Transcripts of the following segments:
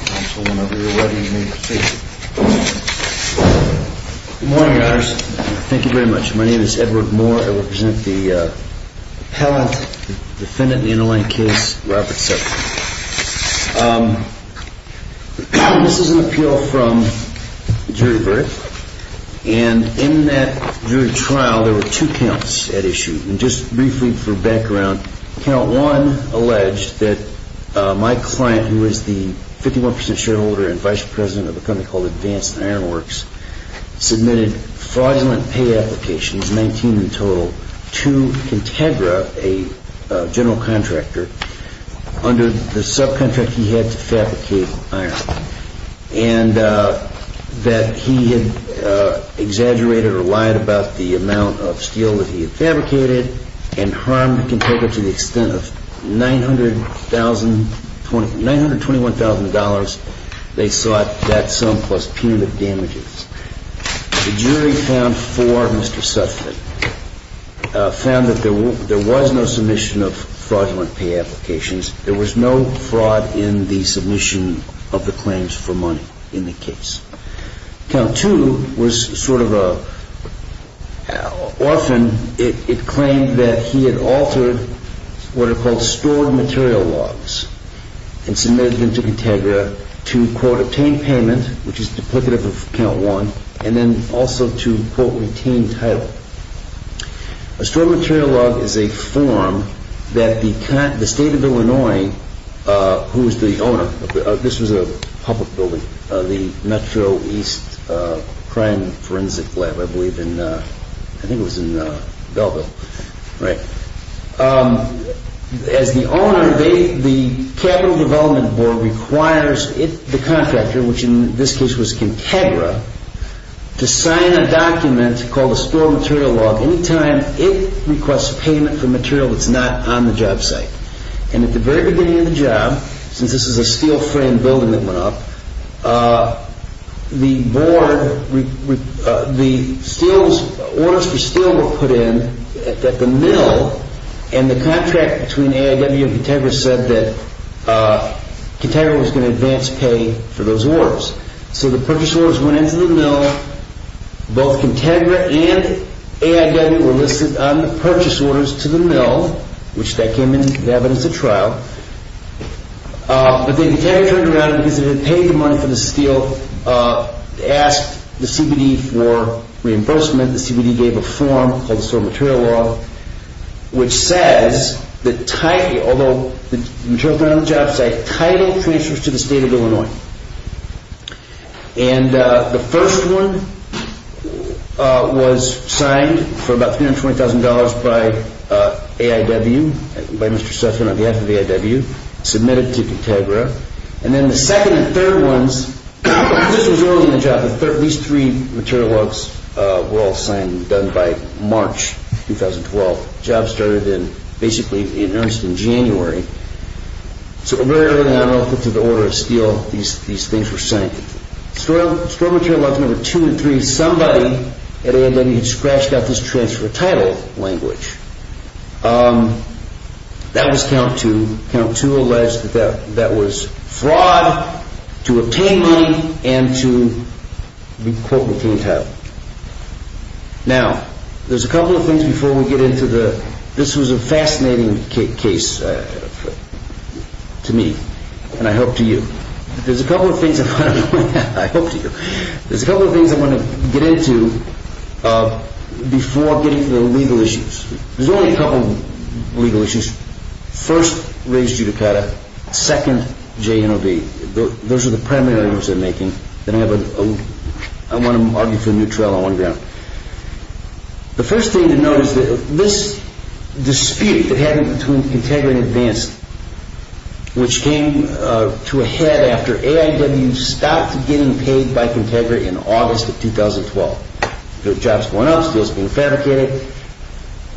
Counsel, whenever you're ready, you may proceed. Good morning, Your Honors. Thank you very much. My name is Edward Moore. I represent the appellant, defendant in the interlain case, Robert Sutphen. This is an appeal from jury brief, and in that jury trial, there were two counts at issue. And just briefly for background, Count 1 alleged that my client, who is the 51% shareholder and vice president of a company called Advanced Ironworks, submitted fraudulent pay applications, 19 in total, to Contegra, a general contractor, under the subcontract he had to fabricate iron. And that he had exaggerated or lied about the amount of steel that he had fabricated, and harmed Contegra to the extent of $921,000. They sought that sum plus punitive damages. The jury found for Mr. Sutphen found that there was no submission of fraudulent pay applications. There was no fraud in the submission of the claims for money in the case. Count 2 was sort of a, often it claimed that he had altered what are called stored material logs, and submitted them to Contegra to quote, obtain payment, which is duplicative of Count 1, and then also to quote, retain title. A stored material log is a form that the state of Illinois, who is the owner, this was a public building, the Metro East Crime Forensic Lab, I believe in, I think it was in Belleville. As the owner, the Capital Development Board requires the contractor, which in this case was Contegra, to sign a document called a stored material log any time it requests payment for material that's not on the job site. And at the very beginning of the job, since this is a steel-framed building that went up, the board, the orders for steel were put in at the mill, and the contract between AIW and Contegra said that Contegra was going to advance pay for those orders. So the purchase orders went into the mill, both Contegra and AIW were listed on the purchase orders to the mill, which that came into the evidence at trial, but then Contegra turned around because they had paid the money for the steel, asked the CBD for reimbursement, the CBD gave a form called the stored material log, which says that, although the material log was not on the job site, title transfers to the state of Illinois. And the first one was signed for about $320,000 by AIW, by Mr. Sussman on behalf of AIW, submitted to Contegra, and then the second and third ones, this was early in the job, these three material logs were all signed and done by March 2012, the job started in, basically in January. So very early on, I don't know if it's in the order of steel, these things were signed. Stored material logs number 2 and 3, somebody at AIW had scratched out this transfer title language. That was count 2, count 2 alleged that that was fraud, to obtain money, and to, quote, obtain title. Now, there's a couple of things before we get into the, this was a fascinating case to me, and I hope to you. There's a couple of things, I hope to you, there's a couple of things I want to get into before getting to the legal issues. There's only a couple of legal issues, first, raised judicata, second, JNOB, those are the The first thing to note is that this dispute that happened between Contegra and Advanced, which came to a head after AIW stopped getting paid by Contegra in August of 2012, the job's going up, steel's being fabricated,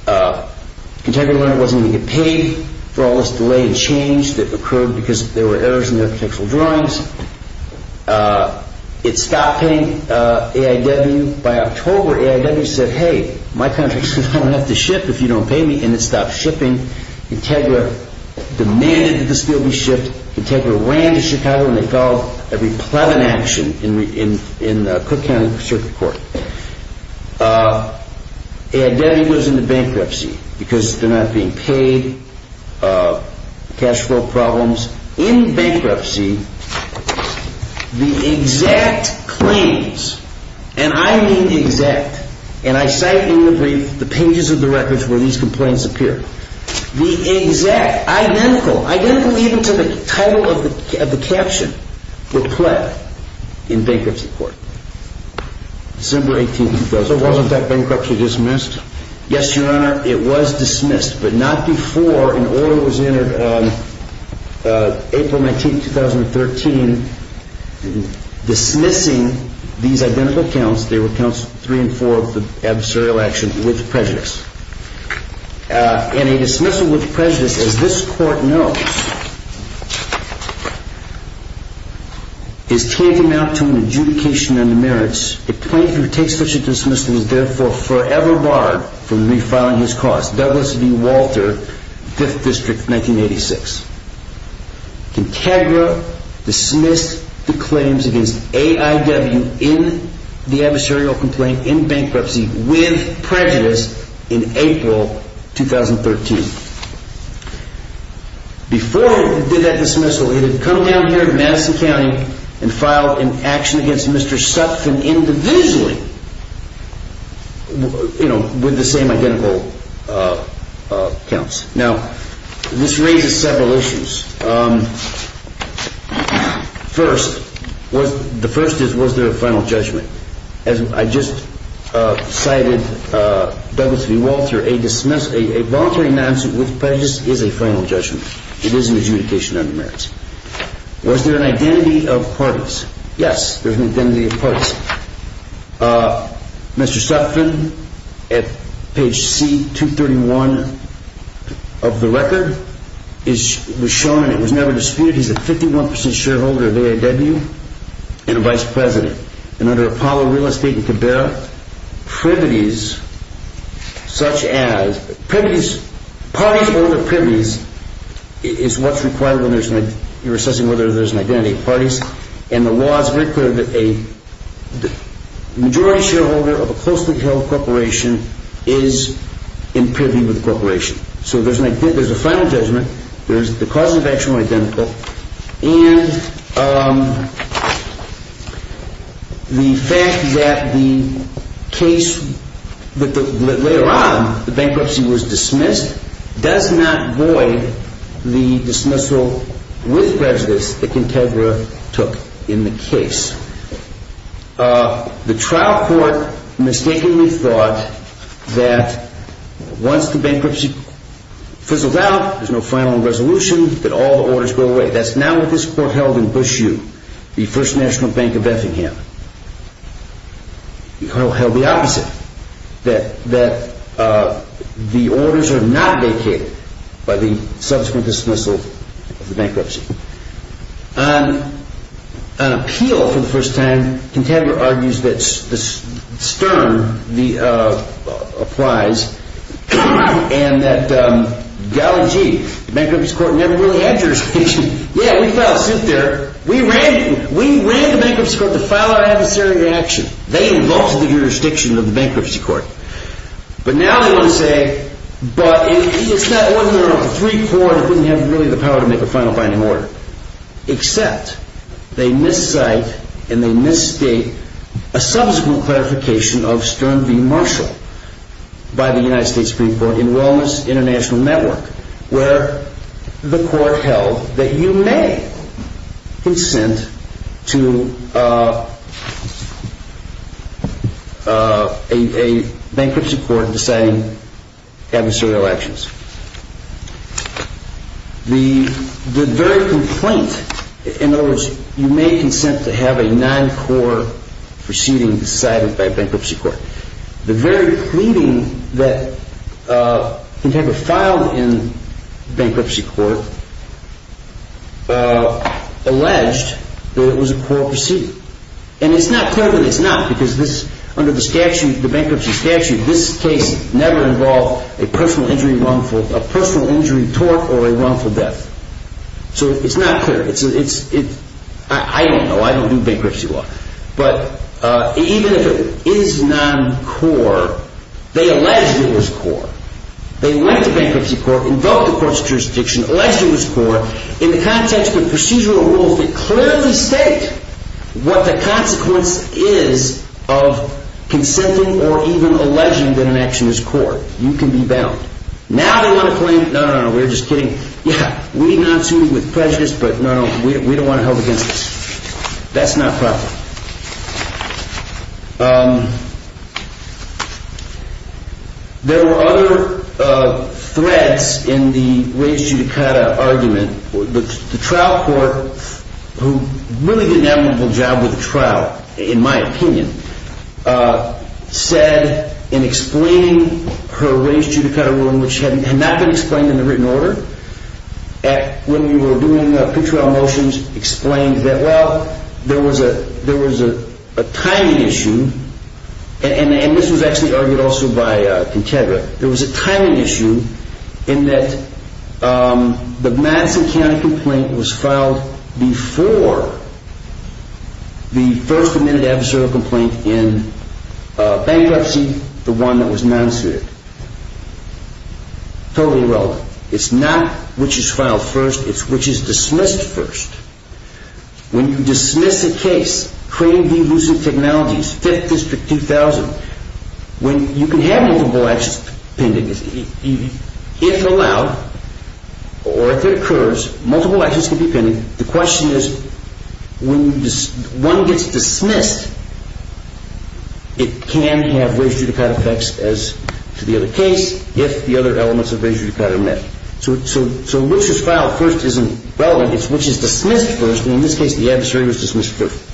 Contegra wasn't going to get paid for all this delay and change that occurred because there were errors in their architectural drawings, it And by October, AIW said, hey, my contract says I don't have to ship if you don't pay me, and it stopped shipping, Contegra demanded that the steel be shipped, Contegra ran to Chicago and they filed a replevant action in Cook County Circuit Court, AIW goes into bankruptcy because they're not being paid, cash flow problems, in bankruptcy, the exact claims, and I mean exact, and I cite in the brief the pages of the records where these complaints appear, the exact, identical, identical even to the title of the caption, were pled in bankruptcy court. December 18th, 2012. So wasn't that bankruptcy dismissed? Yes, Your Honor, it was dismissed, but not before an order was entered, April 19th, 2013, dismissing these identical counts, they were counts 3 and 4 of the adversarial action with prejudice. And a dismissal with prejudice, as this court knows, is tantamount to an adjudication on the merits, a plaintiff who takes such a dismissal is therefore forever barred from refiling his cause. Douglas V. Walter, 5th District, 1986. Contegra dismissed the claims against AIW in the adversarial complaint in bankruptcy with prejudice in April 2013. Before they did that dismissal, they had come down here to Madison County and filed an action against Mr. Sutphin individually, you know, with the same identical counts. Now, this raises several issues. First, the first is, was there a final judgment? As I just cited, Douglas V. Walter, a voluntary non-suit with prejudice is a final judgment, it is an adjudication on the merits. Was there an identity of parties? Yes, there was an identity of parties. Mr. Sutphin, at page C-231 of the record, was shown, and it was never disputed, he's a 51% shareholder of AIW and a vice president. And under Apollo Real Estate and Cabrera, privities such as, parties over privities is what's required when you're assessing whether there's an identity of parties, and the law is very clear that a majority shareholder of a closely held corporation is in privy with the corporation. So, there's a final judgment, there's the causes of action are identical, and the fact that the case, that later on, the bankruptcy was dismissed, does not void the dismissal with prejudice that Contegra took in the case. The trial court mistakenly thought that once the bankruptcy fizzles out, there's no final resolution, that all the orders go away. That's not what this court held in Bush U, the First National Bank of Effingham. It held the opposite, that the orders are not vacated by the subsequent dismissal of the bankruptcy. On appeal, for the first time, Contegra argues that Stern applies, and that, golly gee, the bankruptcy court never really had jurisdiction, yeah, we filed a suit there, we ran the bankruptcy court to file our adversarial action, they invoked the jurisdiction of the bankruptcy court. But now they want to say, but it's not one of their own, the three court didn't have really the power to make a final binding order, except they miscite, and they misstate a subsequent clarification of Stern v. Marshall by the United States Supreme Court in Wilmer's International Network, where the court held that you may consent to a bankruptcy court deciding adversarial actions. The very complaint, in other words, you may consent to have a non-court proceeding decided by a bankruptcy court. The very pleading that Contegra filed in the bankruptcy court alleged that it was a poor proceeding. And it's not clear that it's not, because under the bankruptcy statute, this case never involved a personal injury tort or a wrongful death. So it's not clear, I don't know, I don't do bankruptcy law. But even if it is non-court, they alleged it was court. They went to bankruptcy court, invoked the court's jurisdiction, alleged it was court, in the context of procedural rules that clearly state what the consequence is of consenting or even alleging that an action is court. You can be bound. Now they want to claim, no, no, no, we're just kidding, yeah, we did not sue you with prejudice, but no, no, we don't want to help against this. That's not proper. There were other threads in the raised judicata argument. The trial court, who really did an admirable job with the trial, in my opinion, said in explaining her raised judicata ruling, which had not been explained in the written order, when we were doing the pre-trial motions, explained that, well, there was a timing issue, and this was actually argued also by Contegra, there was a timing issue in that the Madison County complaint was filed before the first admitted adversarial complaint in bankruptcy, the one that was non-suited. Totally irrelevant. It's not which is filed first, it's which is dismissed first. When you dismiss a case, creating delusive technologies, Fifth District 2000, when you can have multiple actions pending, if allowed, or if it occurs, multiple actions can be pending. The question is, when one gets dismissed, it can have raised judicata effects as to the other case, if the other elements of raised judicata are met. So which is filed first isn't relevant, it's which is dismissed first, and in this case, the adversary was dismissed first.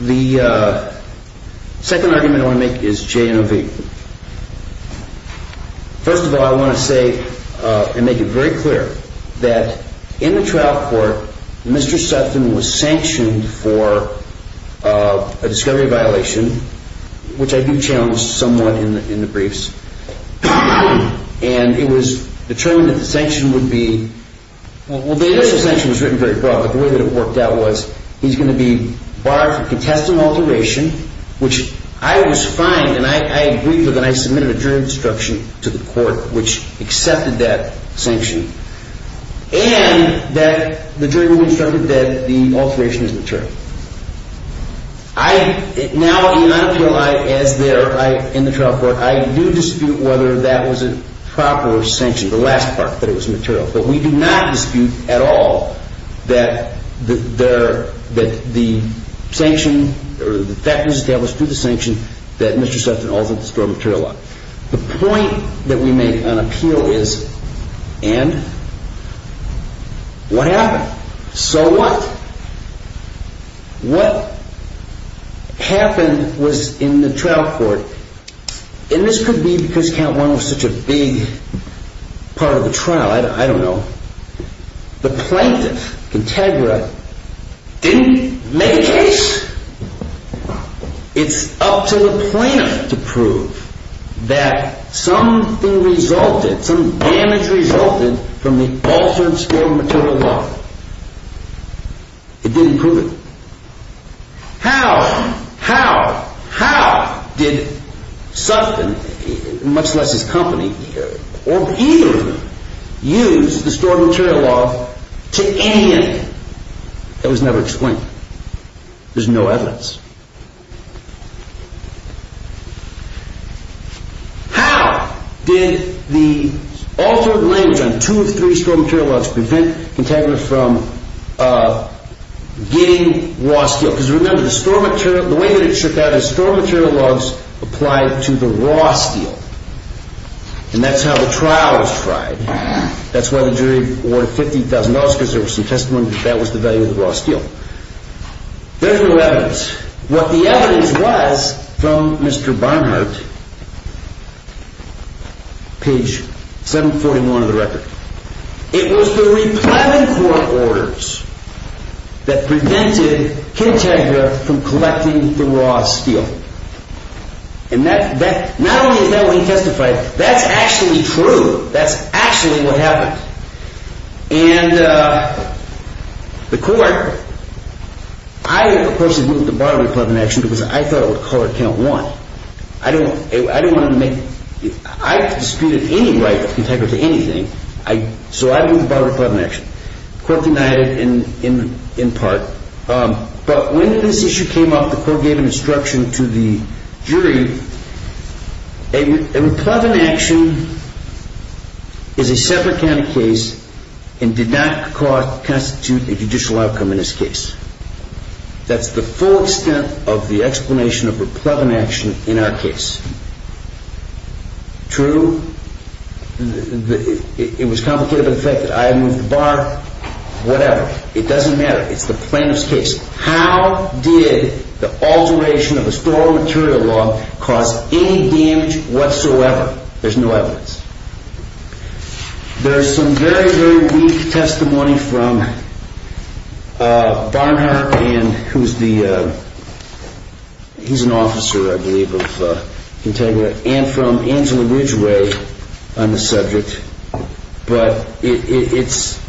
The second argument I want to make is J and O V. First of all, I want to say, and make it very clear, that in the trial court, Mr. Sutton was sanctioned for a discovery violation, which I do challenge somewhat in the briefs, and it was determined that the sanction would be, well, the initial sanction was written very broad, but the way that it worked out was, he's going to be barred for contestant alteration, which I was fined, and I agreed with, and I submitted a jury instruction to the court, which accepted that sanction, and that the jury instructed that the alteration is material. Now, in the trial court, I do dispute whether that was a proper sanction, the last part, that it was material. But we do not dispute at all that the fact was established through the sanction that Mr. Sutton altered the store material law. The point that we make on appeal is, and? What happened? So what? What happened was, in the trial court, and this could be because count one was such a big part of the trial, I don't know, the plaintiff, Contegra, didn't make a case. It's up to the plaintiff to prove that something resulted, some damage resulted from the altered store material law. It didn't prove it. How? How? How? How did Sutton, much less his company, or either of them, use the store material law to any end? It was never explained. There's no evidence. How did the altered language on two or three store material laws prevent Contegra from getting lost? Because remember, the way that it trickled out is store material laws applied to the raw steel. And that's how the trial was tried. That's why the jury awarded $15,000 because there were some testimonies that that was the value of the raw steel. There's no evidence. What the evidence was from Mr. Barnhart, page 741 of the Record, it was the replenment court orders that prevented Kintegra from collecting the raw steel. And not only is that what he testified, that's actually true. That's actually what happened. And the court, I, of course, had moved the Barberry Club in action because I thought it was a colored count one. I didn't want to make, I disputed any right of Kintegra to anything, so I moved the Barberry Club in action. The court denied it in part. But when this issue came up, the court gave an instruction to the jury, a replevant action is a separate kind of case and did not constitute a judicial outcome in this case. That's the full extent of the explanation of a replevant action in our case. True? It was complicated by the fact that I had moved the Bar, whatever, it doesn't matter. It's the plaintiff's case. How did the alteration of a store of material law cause any damage whatsoever? There's no evidence. There's some very, very weak testimony from Barnhart and who's the, he's an officer, I think, on the subject, but it's,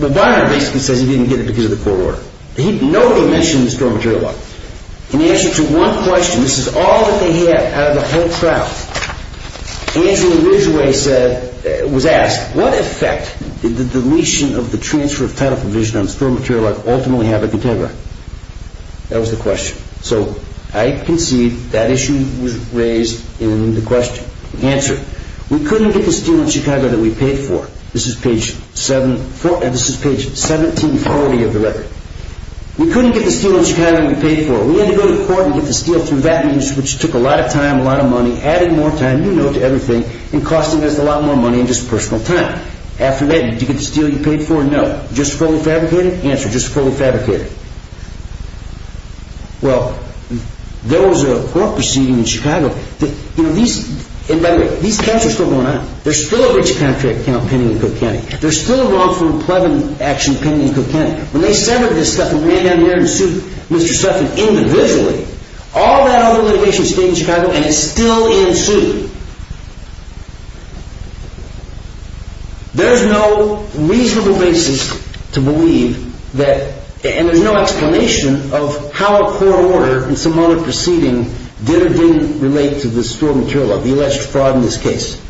Barnhart basically says he didn't get it because of the court order. He, nobody mentioned the store of material law. In answer to one question, this is all that they had out of the whole trial, Andrew Ridgway said, was asked, what effect did the deletion of the transfer of title provision on store of material law ultimately have on Kintegra? That was the question. So I concede that issue was raised in the question. Answer, we couldn't get the steel in Chicago that we paid for. This is page seven, this is page 1740 of the record. We couldn't get the steel in Chicago that we paid for. We had to go to court and get the steel through that means which took a lot of time, a lot of money, added more time, you know, to everything and costing us a lot more money and just personal time. After that, did you get the steel you paid for? No. Just fully fabricated? Answer, just fully fabricated. Well, there was a court proceeding in Chicago that, you know, these, and by the way, these counts are still going on. There's still a rich contract count pending in Cook County. There's still a wrongful and plebeian action pending in Cook County. When they sent over this stuff and ran down the air and sued Mr. Suffin individually, all that other litigation stayed in Chicago and it's still in suit. There's no reasonable basis to believe that, and there's no explanation of how a court order in some other proceeding did or didn't relate to the store material of the alleged fraud in this case.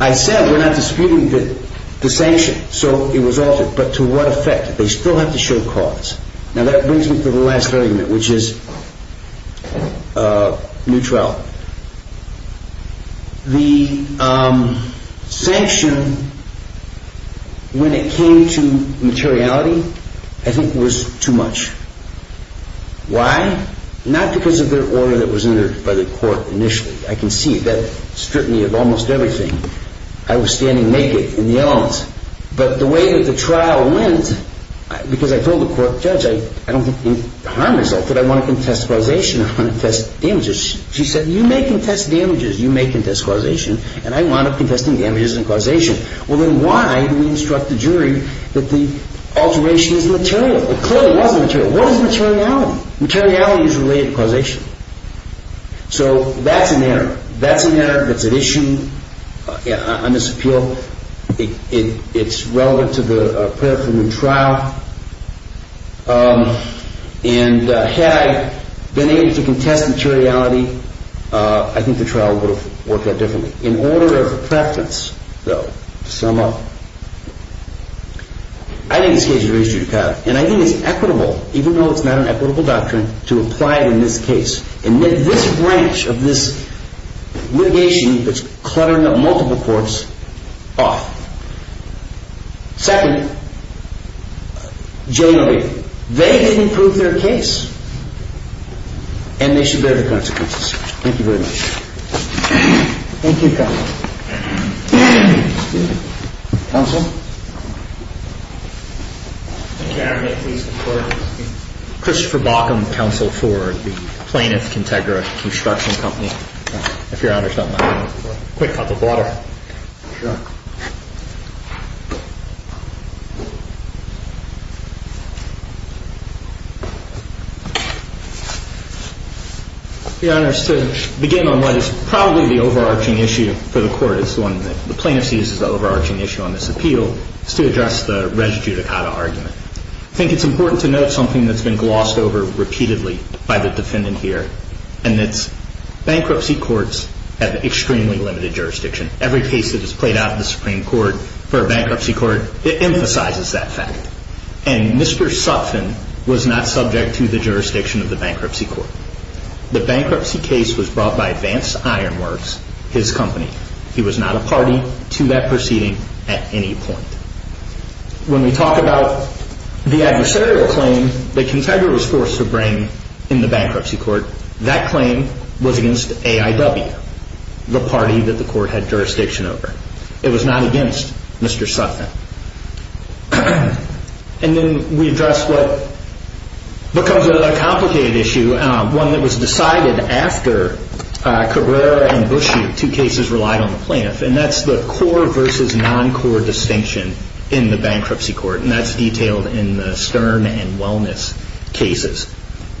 I said, we're not disputing the sanction. So it was altered. But to what effect? They still have to show cause. Now that brings me to the last argument, which is a new trial. The sanction, when it came to materiality, I think was too much. Why? Not because of their order that was entered by the court initially. I can see that scrutiny of almost everything. I was standing naked in the elements, but the way that the trial went, because I told the court judge, I don't want to harm myself, but I want to contest causation, I want to contest damages. She said, you may contest damages, you may contest causation, and I wound up contesting damages and causation. Well, then why do we instruct the jury that the alteration is material? It clearly wasn't material. What is materiality? Materiality is related to causation. So that's an error. That's an error that's an issue on this appeal. It's relevant to the paraphernalia trial, and had I been able to contest materiality, I think the trial would have worked out differently. In order of preference, though, to sum up, I think this case is a reasonable trial, and I think it's equitable, even though it's not an equitable doctrine, to apply it in this case. And this branch of this litigation that's cluttering up multiple courts, off. Second, J. Lloyd, they didn't prove their case, and they should bear the consequences. Thank you very much. Thank you, counsel. Counsel? Can I have a minute, please, before I speak? Christopher Baucom, counsel for the Plaintiff-Contegra Construction Company. If Your Honor's not minding, a quick cup of water. Sure. Your Honor, to begin on what is probably the overarching issue for the court, it's the plaintiff sees as the overarching issue on this appeal, is to address the res judicata argument. I think it's important to note something that's been glossed over repeatedly by the defendant here, and it's bankruptcy courts have extremely limited jurisdiction. Every case that is played out in the Supreme Court for a bankruptcy court, it emphasizes that fact. And Mr. Sutphin was not subject to the jurisdiction of the bankruptcy court. The bankruptcy case was brought by Advanced Iron Works, his company. He was not a party to that proceeding at any point. When we talk about the adversarial claim that Contegra was forced to bring in the bankruptcy court, that claim was against AIW, the party that the court had jurisdiction over. It was not against Mr. Sutphin. And then we address what becomes a complicated issue, one that was decided after Cabrera and Buschew, two cases relied on the plaintiff, and that's the core versus non-core distinction in the bankruptcy court, and that's detailed in the Stern and Wellness cases.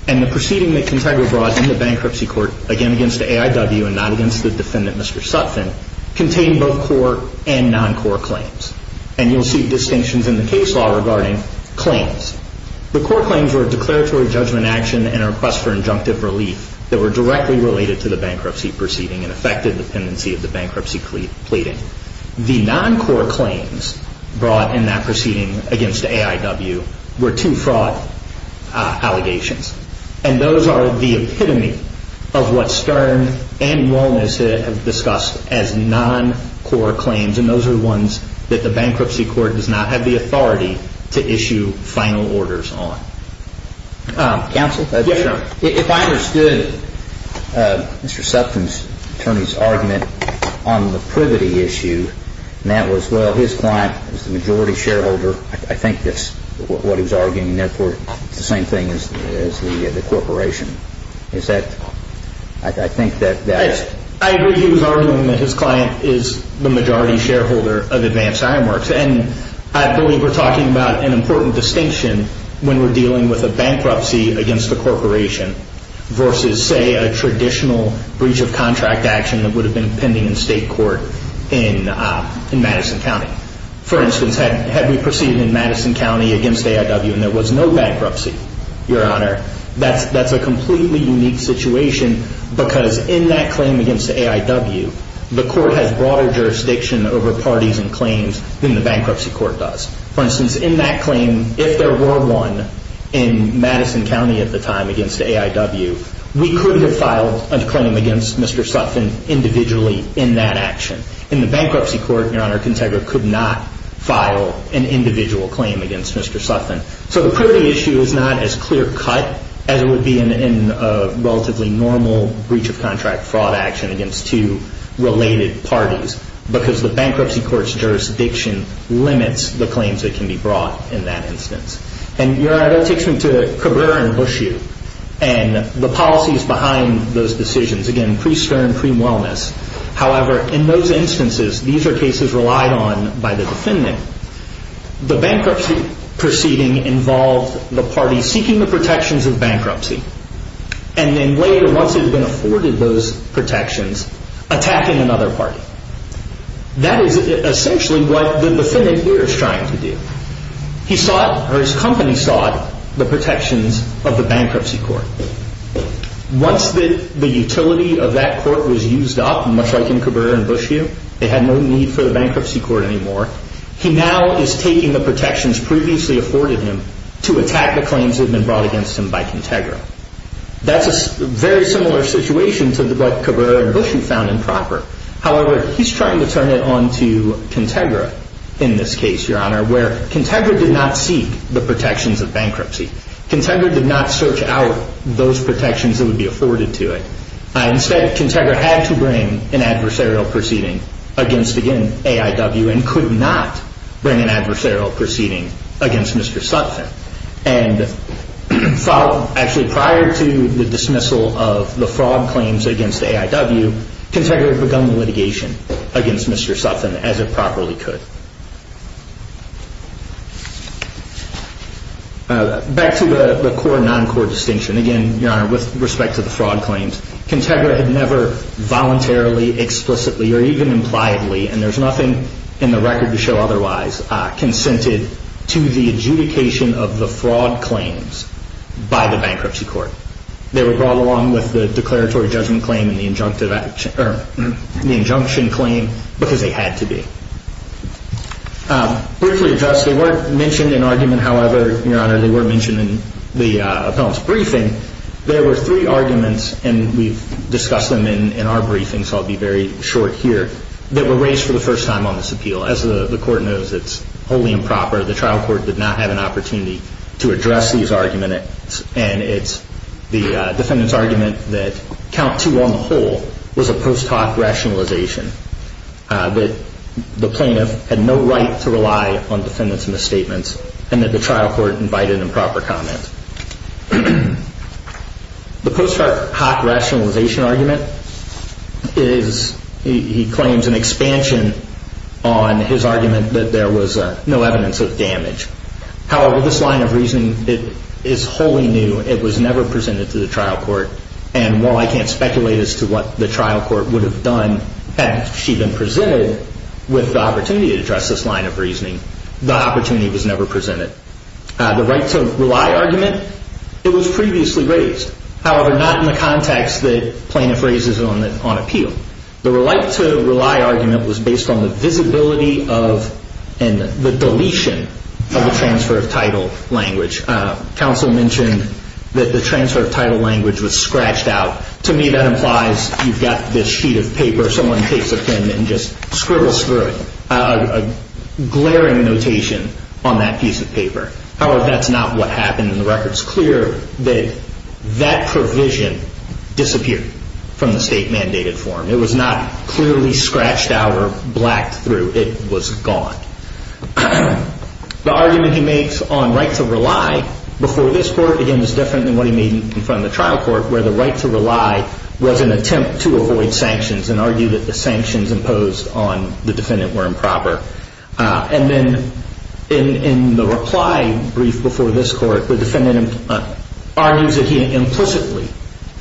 And the proceeding that Contegra brought in the bankruptcy court, again against AIW and not against the defendant, Mr. Sutphin, contained both core and non-core claims. And you'll see distinctions in the case law regarding claims. The core claims were a declaratory judgment action and a request for injunctive relief that were directly related to the bankruptcy proceeding and affected the pendency of the bankruptcy pleading. The non-core claims brought in that proceeding against AIW were two-fraud allegations, and those are the epitome of what Stern and Wellness have discussed as non-core claims, and those are the ones that the bankruptcy court does not have the authority to issue final orders on. Counsel? Yes, sir. If I understood Mr. Sutphin's attorney's argument on the privity issue, and that was, well, his client is the majority shareholder, I think that's what he was arguing, and therefore it's the same thing as the corporation. Is that... I think that... I agree he was arguing that his client is the majority shareholder of Advanced Ironworks, and I believe we're talking about an important distinction when we're dealing with a bankruptcy against a corporation versus, say, a traditional breach of contract action that would have been pending in state court in Madison County. For instance, had we proceeded in Madison County against AIW and there was no bankruptcy, Your Honor, that's a completely unique situation because in that claim against AIW, the court has broader jurisdiction over parties and claims than the bankruptcy court does. For instance, in that claim, if there were one in Madison County at the time against AIW, we couldn't have filed a claim against Mr. Sutphin individually in that action. In the bankruptcy court, Your Honor, Contegra could not file an individual claim against Mr. Sutphin. So the privity issue is not as clear-cut as it would be in a relatively normal breach of contract fraud action against two related parties because the bankruptcy court's jurisdiction limits the claims that can be brought in that instance. And, Your Honor, that takes me to Cabrera and Buschew, and the policies behind those decisions. Again, pre-stern, pre-Wellness. However, in those instances, these are cases relied on by the defendant. The bankruptcy proceeding involved the party seeking the protections of bankruptcy, and then later, once it had been afforded those protections, attacking another party. That is essentially what the defendant here is trying to do. He sought, or his company sought, the protections of the bankruptcy court. Once the utility of that court was used up, much like in Cabrera and Buschew, they had no need for the bankruptcy court anymore, he now is taking the protections previously afforded him to attack the claims that had been brought against him by Contegra. That's a very similar situation to what Cabrera and Buschew found improper. However, he's trying to turn it on to Contegra in this case, Your Honor, where Contegra did not seek the protections of bankruptcy. Contegra did not search out those protections that would be afforded to it. Instead, Contegra had to bring an adversarial proceeding against, again, AIW, and could not bring an adversarial proceeding against Mr. Sutphin. Actually, prior to the dismissal of the fraud claims against AIW, Contegra had begun the litigation against Mr. Sutphin as it properly could. Back to the core, non-core distinction. Again, Your Honor, with respect to the fraud claims, Contegra had never voluntarily, explicitly, or even impliedly, and there's nothing in the record to show otherwise, consented to the adjudication of the fraud claims by the bankruptcy court. They were brought along with the declaratory judgment claim and the injunction claim because they had to be. Briefly addressed, they weren't mentioned in argument, however, Your Honor, they were mentioned in the appellant's briefing. There were three arguments, and we've discussed them in our briefing, so I'll be very short here, that were raised for the first time on this appeal. As the court knows, it's wholly improper. The trial court did not have an opportunity to address these arguments, and it's the defendant's argument that count two on the whole was a post hoc rationalization, that the plaintiff had no right to rely on defendant's misstatements, and that the trial court invited improper comment. The post hoc rationalization argument is, he claims, an expansion on his argument that there was no evidence of damage. However, this line of reasoning is wholly new. It was never presented to the trial court, and while I can't speculate as to what the trial court would have done had she been presented with the opportunity to address this line of reasoning, the opportunity was never presented. The right to rely argument, it was previously raised. However, not in the context that plaintiff raises on appeal. The right to rely argument was based on the visibility of and the deletion of the transfer of title language. Counsel mentioned that the transfer of title language was scratched out. To me, that implies you've got this sheet of paper. Someone takes a pen and just scribbles through it. Glaring notation on that piece of paper. However, that's not what happened, and the record's clear that that provision disappeared from the state-mandated form. It was not clearly scratched out or blacked through. It was gone. The argument he makes on right to rely before this court, again, is different than what he made in front of the trial court, where the right to rely was an attempt to avoid sanctions and argue that the sanctions imposed on the defendant were improper. And then in the reply brief before this court, the defendant argues that he implicitly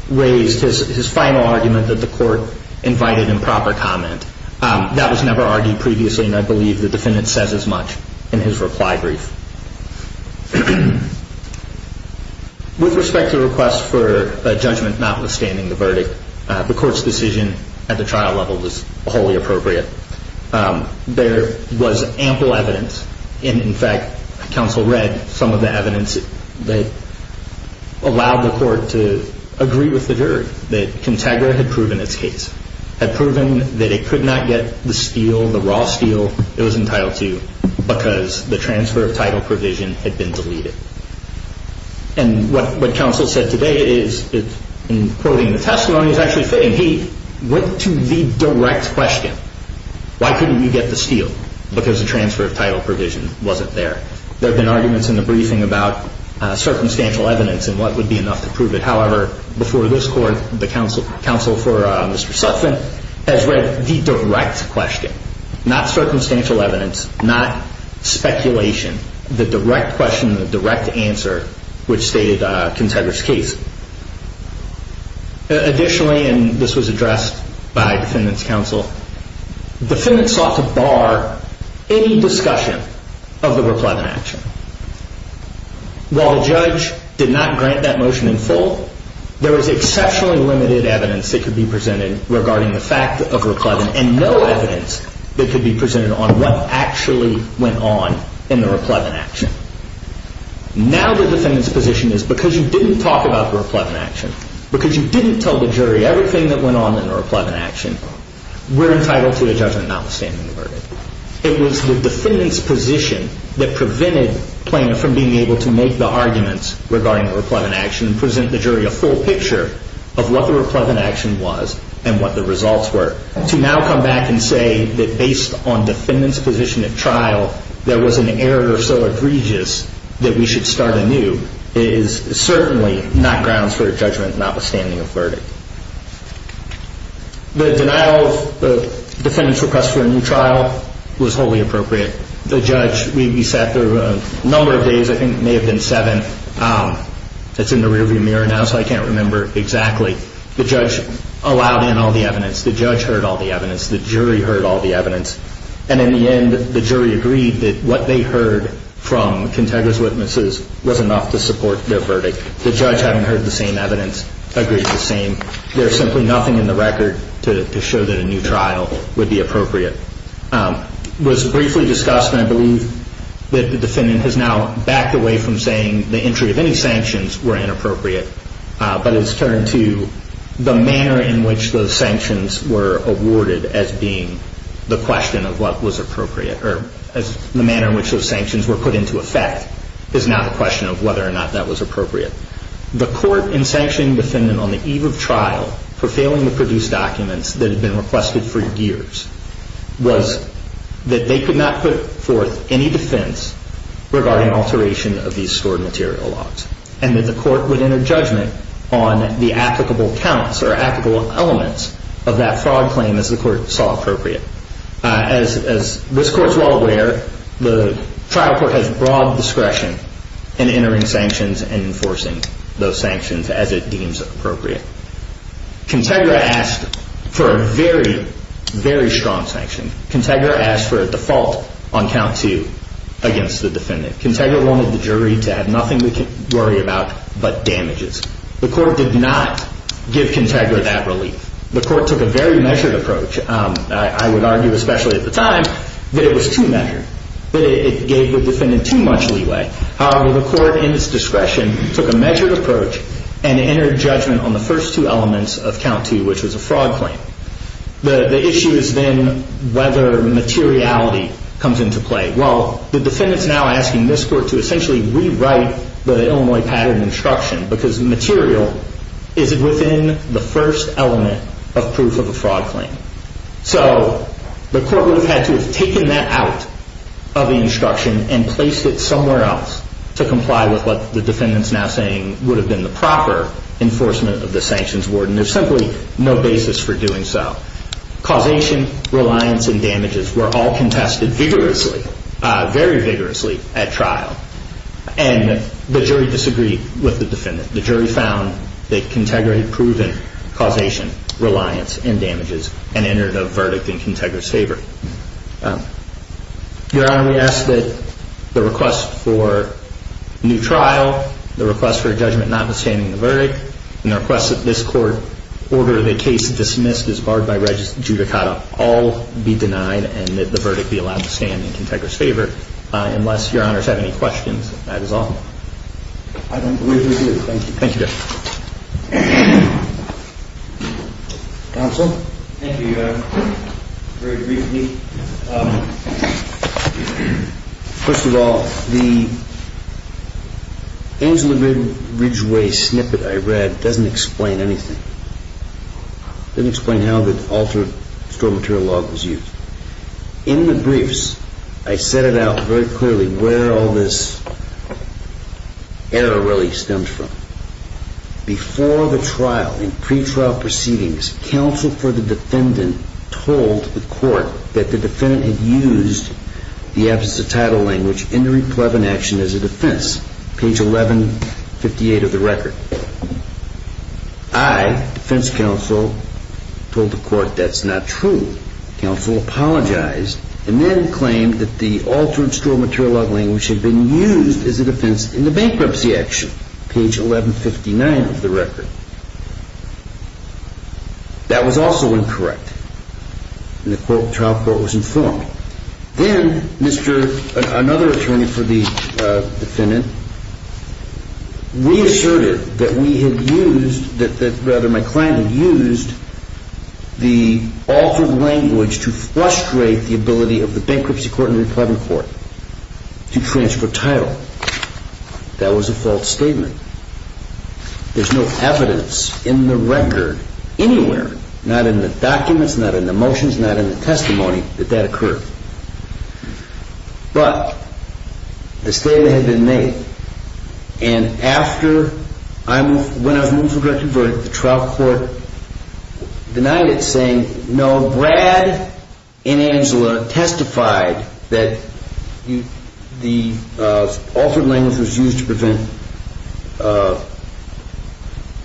raised his final argument that the court invited improper comment. That was never argued previously, and I believe the defendant says as much in his reply brief. With respect to requests for a judgment notwithstanding the verdict, the court's decision at the trial level was wholly appropriate. There was ample evidence, and in fact, counsel read some of the evidence that allowed the court to agree with the jury that Contagra had proven its case, had proven that it could not get the steel, the raw steel it was entitled to, because the transfer of title provision had been deleted. And what counsel said today is, in quoting the testimony, is actually saying he went to the direct question. Why couldn't we get the steel? Because the transfer of title provision wasn't there. There have been arguments in the briefing about circumstantial evidence and what would be enough to prove it. However, before this court, the counsel for Mr. Sutphin has read the direct question, not circumstantial evidence, not speculation. The direct question, the direct answer, which stated Contagra's case. Additionally, and this was addressed by defendant's counsel, the defendant sought to bar any discussion of the replethen action. While the judge did not grant that motion in full, there was exceptionally limited evidence that could be presented regarding the fact of replethen and no evidence that could be presented on what actually went on in the replethen action. Now the defendant's position is, because you didn't talk about the replethen action, because you didn't tell the jury everything that went on in the replethen action, we're entitled to a judgment notwithstanding the verdict. It was the defendant's position that prevented Plano from being able to make the arguments regarding the replethen action and present the jury a full picture of what the replethen action was and what the results were. To now come back and say that based on defendant's position at trial, there was an error so egregious that we should start anew is certainly not grounds for a judgment notwithstanding a verdict. The denial of the defendant's request for a new trial was wholly appropriate. The judge, we sat there a number of days, I think it may have been seven. It's in the rear view mirror now, so I can't remember exactly. The judge allowed in all the evidence. The judge heard all the evidence. The jury heard all the evidence. And in the end, the jury agreed that what they heard from Contegra's witnesses was enough to support their verdict. The judge, having heard the same evidence, agreed the same. There's simply nothing in the record to show that a new trial would be appropriate. It was briefly discussed, and I believe that the defendant has now backed away from saying the entry of any sanctions were inappropriate. But it's turned to the manner in which those sanctions were awarded as being the question of what was appropriate, or the manner in which those sanctions were put into effect is now the question of whether or not that was appropriate. The court in sanctioning the defendant on the eve of trial for failing to produce documents that had been requested for years was that they could not put forth any defense regarding alteration of these stored material logs, and that the court had no judgment on the applicable counts or applicable elements of that fraud claim as the court saw appropriate. As this court's well aware, the trial court has broad discretion in entering sanctions and enforcing those sanctions as it deems appropriate. Contegra asked for a very, very strong sanction. Contegra asked for a default on count two against the defendant. Contegra wanted the jury to have nothing to worry about but damages. The court did not give Contegra that relief. The court took a very measured approach. I would argue, especially at the time, that it was too measured, that it gave the defendant too much leeway. However, the court, in its discretion, took a measured approach and entered judgment on the first two elements of count two, which was a fraud claim. The issue has been whether materiality comes into play. Well, the defendant's now asking this court to essentially rewrite the Illinois pattern instruction because material is within the first element of proof of a fraud claim. So the court would have had to have taken that out of the instruction and placed it somewhere else to comply with what the defendant's now saying would have been the proper enforcement of the sanctions word, and there's simply no basis for doing so. Causation, reliance, and damages were all contested vigorously, very vigorously at trial, and the jury disagreed with the defendant. The jury found that Contegra had proven causation, reliance, and damages and entered a verdict in Contegra's favor. Your Honor, we ask that the request for a new trial, the request for a judgment notwithstanding the verdict, and the request that this court order the case dismissed as barred by judicata all be denied and that the verdict be allowed to stand in Contegra's favor. Unless Your Honor has any questions, that is all. I don't believe we do. Thank you. Thank you, Judge. Counsel? Thank you, Your Honor. Very briefly, first of all, the Angela Ridgway snippet I read doesn't explain anything. It doesn't explain how the altered stored material log was used. In the briefs, I set it out very clearly where all this error really stems from. Before the trial, in pretrial proceedings, counsel for the defendant told the court that the defendant had used the absence of title language in the defense counsel told the court that's not true. Counsel apologized and then claimed that the altered stored material log language had been used as a defense in the bankruptcy action, page 1159 of the record. That was also incorrect. And the trial court was informed. Then another attorney for the defendant reasserted that we had used, that rather my client had used the altered language to frustrate the ability of the bankruptcy court in the 11th court to transfer title. That was a false statement. There's no evidence in the record anywhere, not in the documents, not in the testimony, that that occurred. But the statement had been made. And after I moved, when I was moved to a directed verdict, the trial court denied it saying, no, Brad and Angela testified that the altered language was used to prevent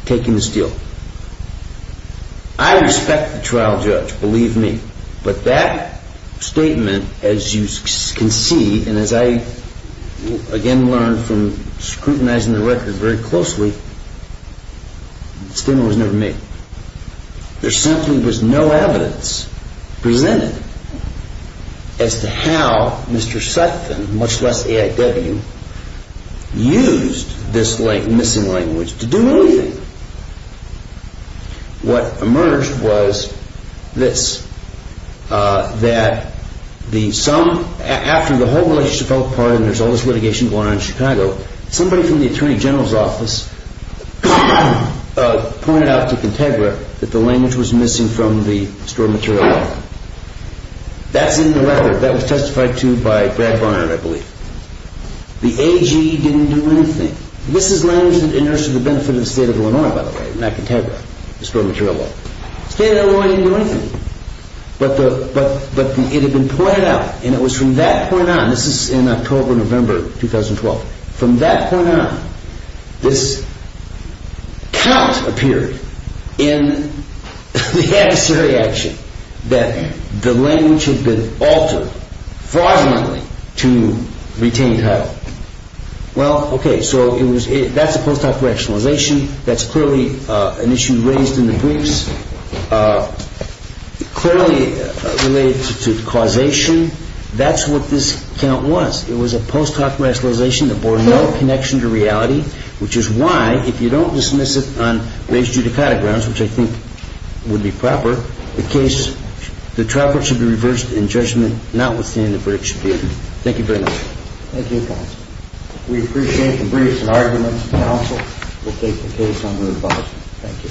taking this deal. I respect the trial judge, believe me. But that statement, as you can see, and as I again learned from scrutinizing the record very closely, the statement was never made. There simply was no evidence presented as to how Mr. Sutphin, much less AIW, used this missing language to do anything. What emerged was this, that the sum, after the whole relationship fell apart and there's all this litigation going on in Chicago, somebody from the Attorney General's office pointed out to Contegra that the language was missing from the stored material. That's in the record. That was testified to by Brad Barnard, I believe. The AG didn't do anything. This is language that enters to the benefit of the state of Illinois, by the way, not Contegra, the stored material law. The state of Illinois didn't do anything. But it had been pointed out, and it was from that point on, this is in October, November 2012, from that point on, this count appeared in the adversary action that the language had been altered, fraudulently, to retain title. Well, okay, so that's a post-op rationalization. That's clearly an issue raised in the briefs. Clearly related to causation, that's what this count was. It was a post-op rationalization that bore no connection to reality, which is why, if you don't dismiss it on race judicata grounds, which I think would be proper, the case, the trial court should be reversed in judgment, not withstanding the verdict should be appealed. Thank you very much. Thank you, counsel. We appreciate the briefs and arguments, counsel. We'll take the case under advice. Thank you.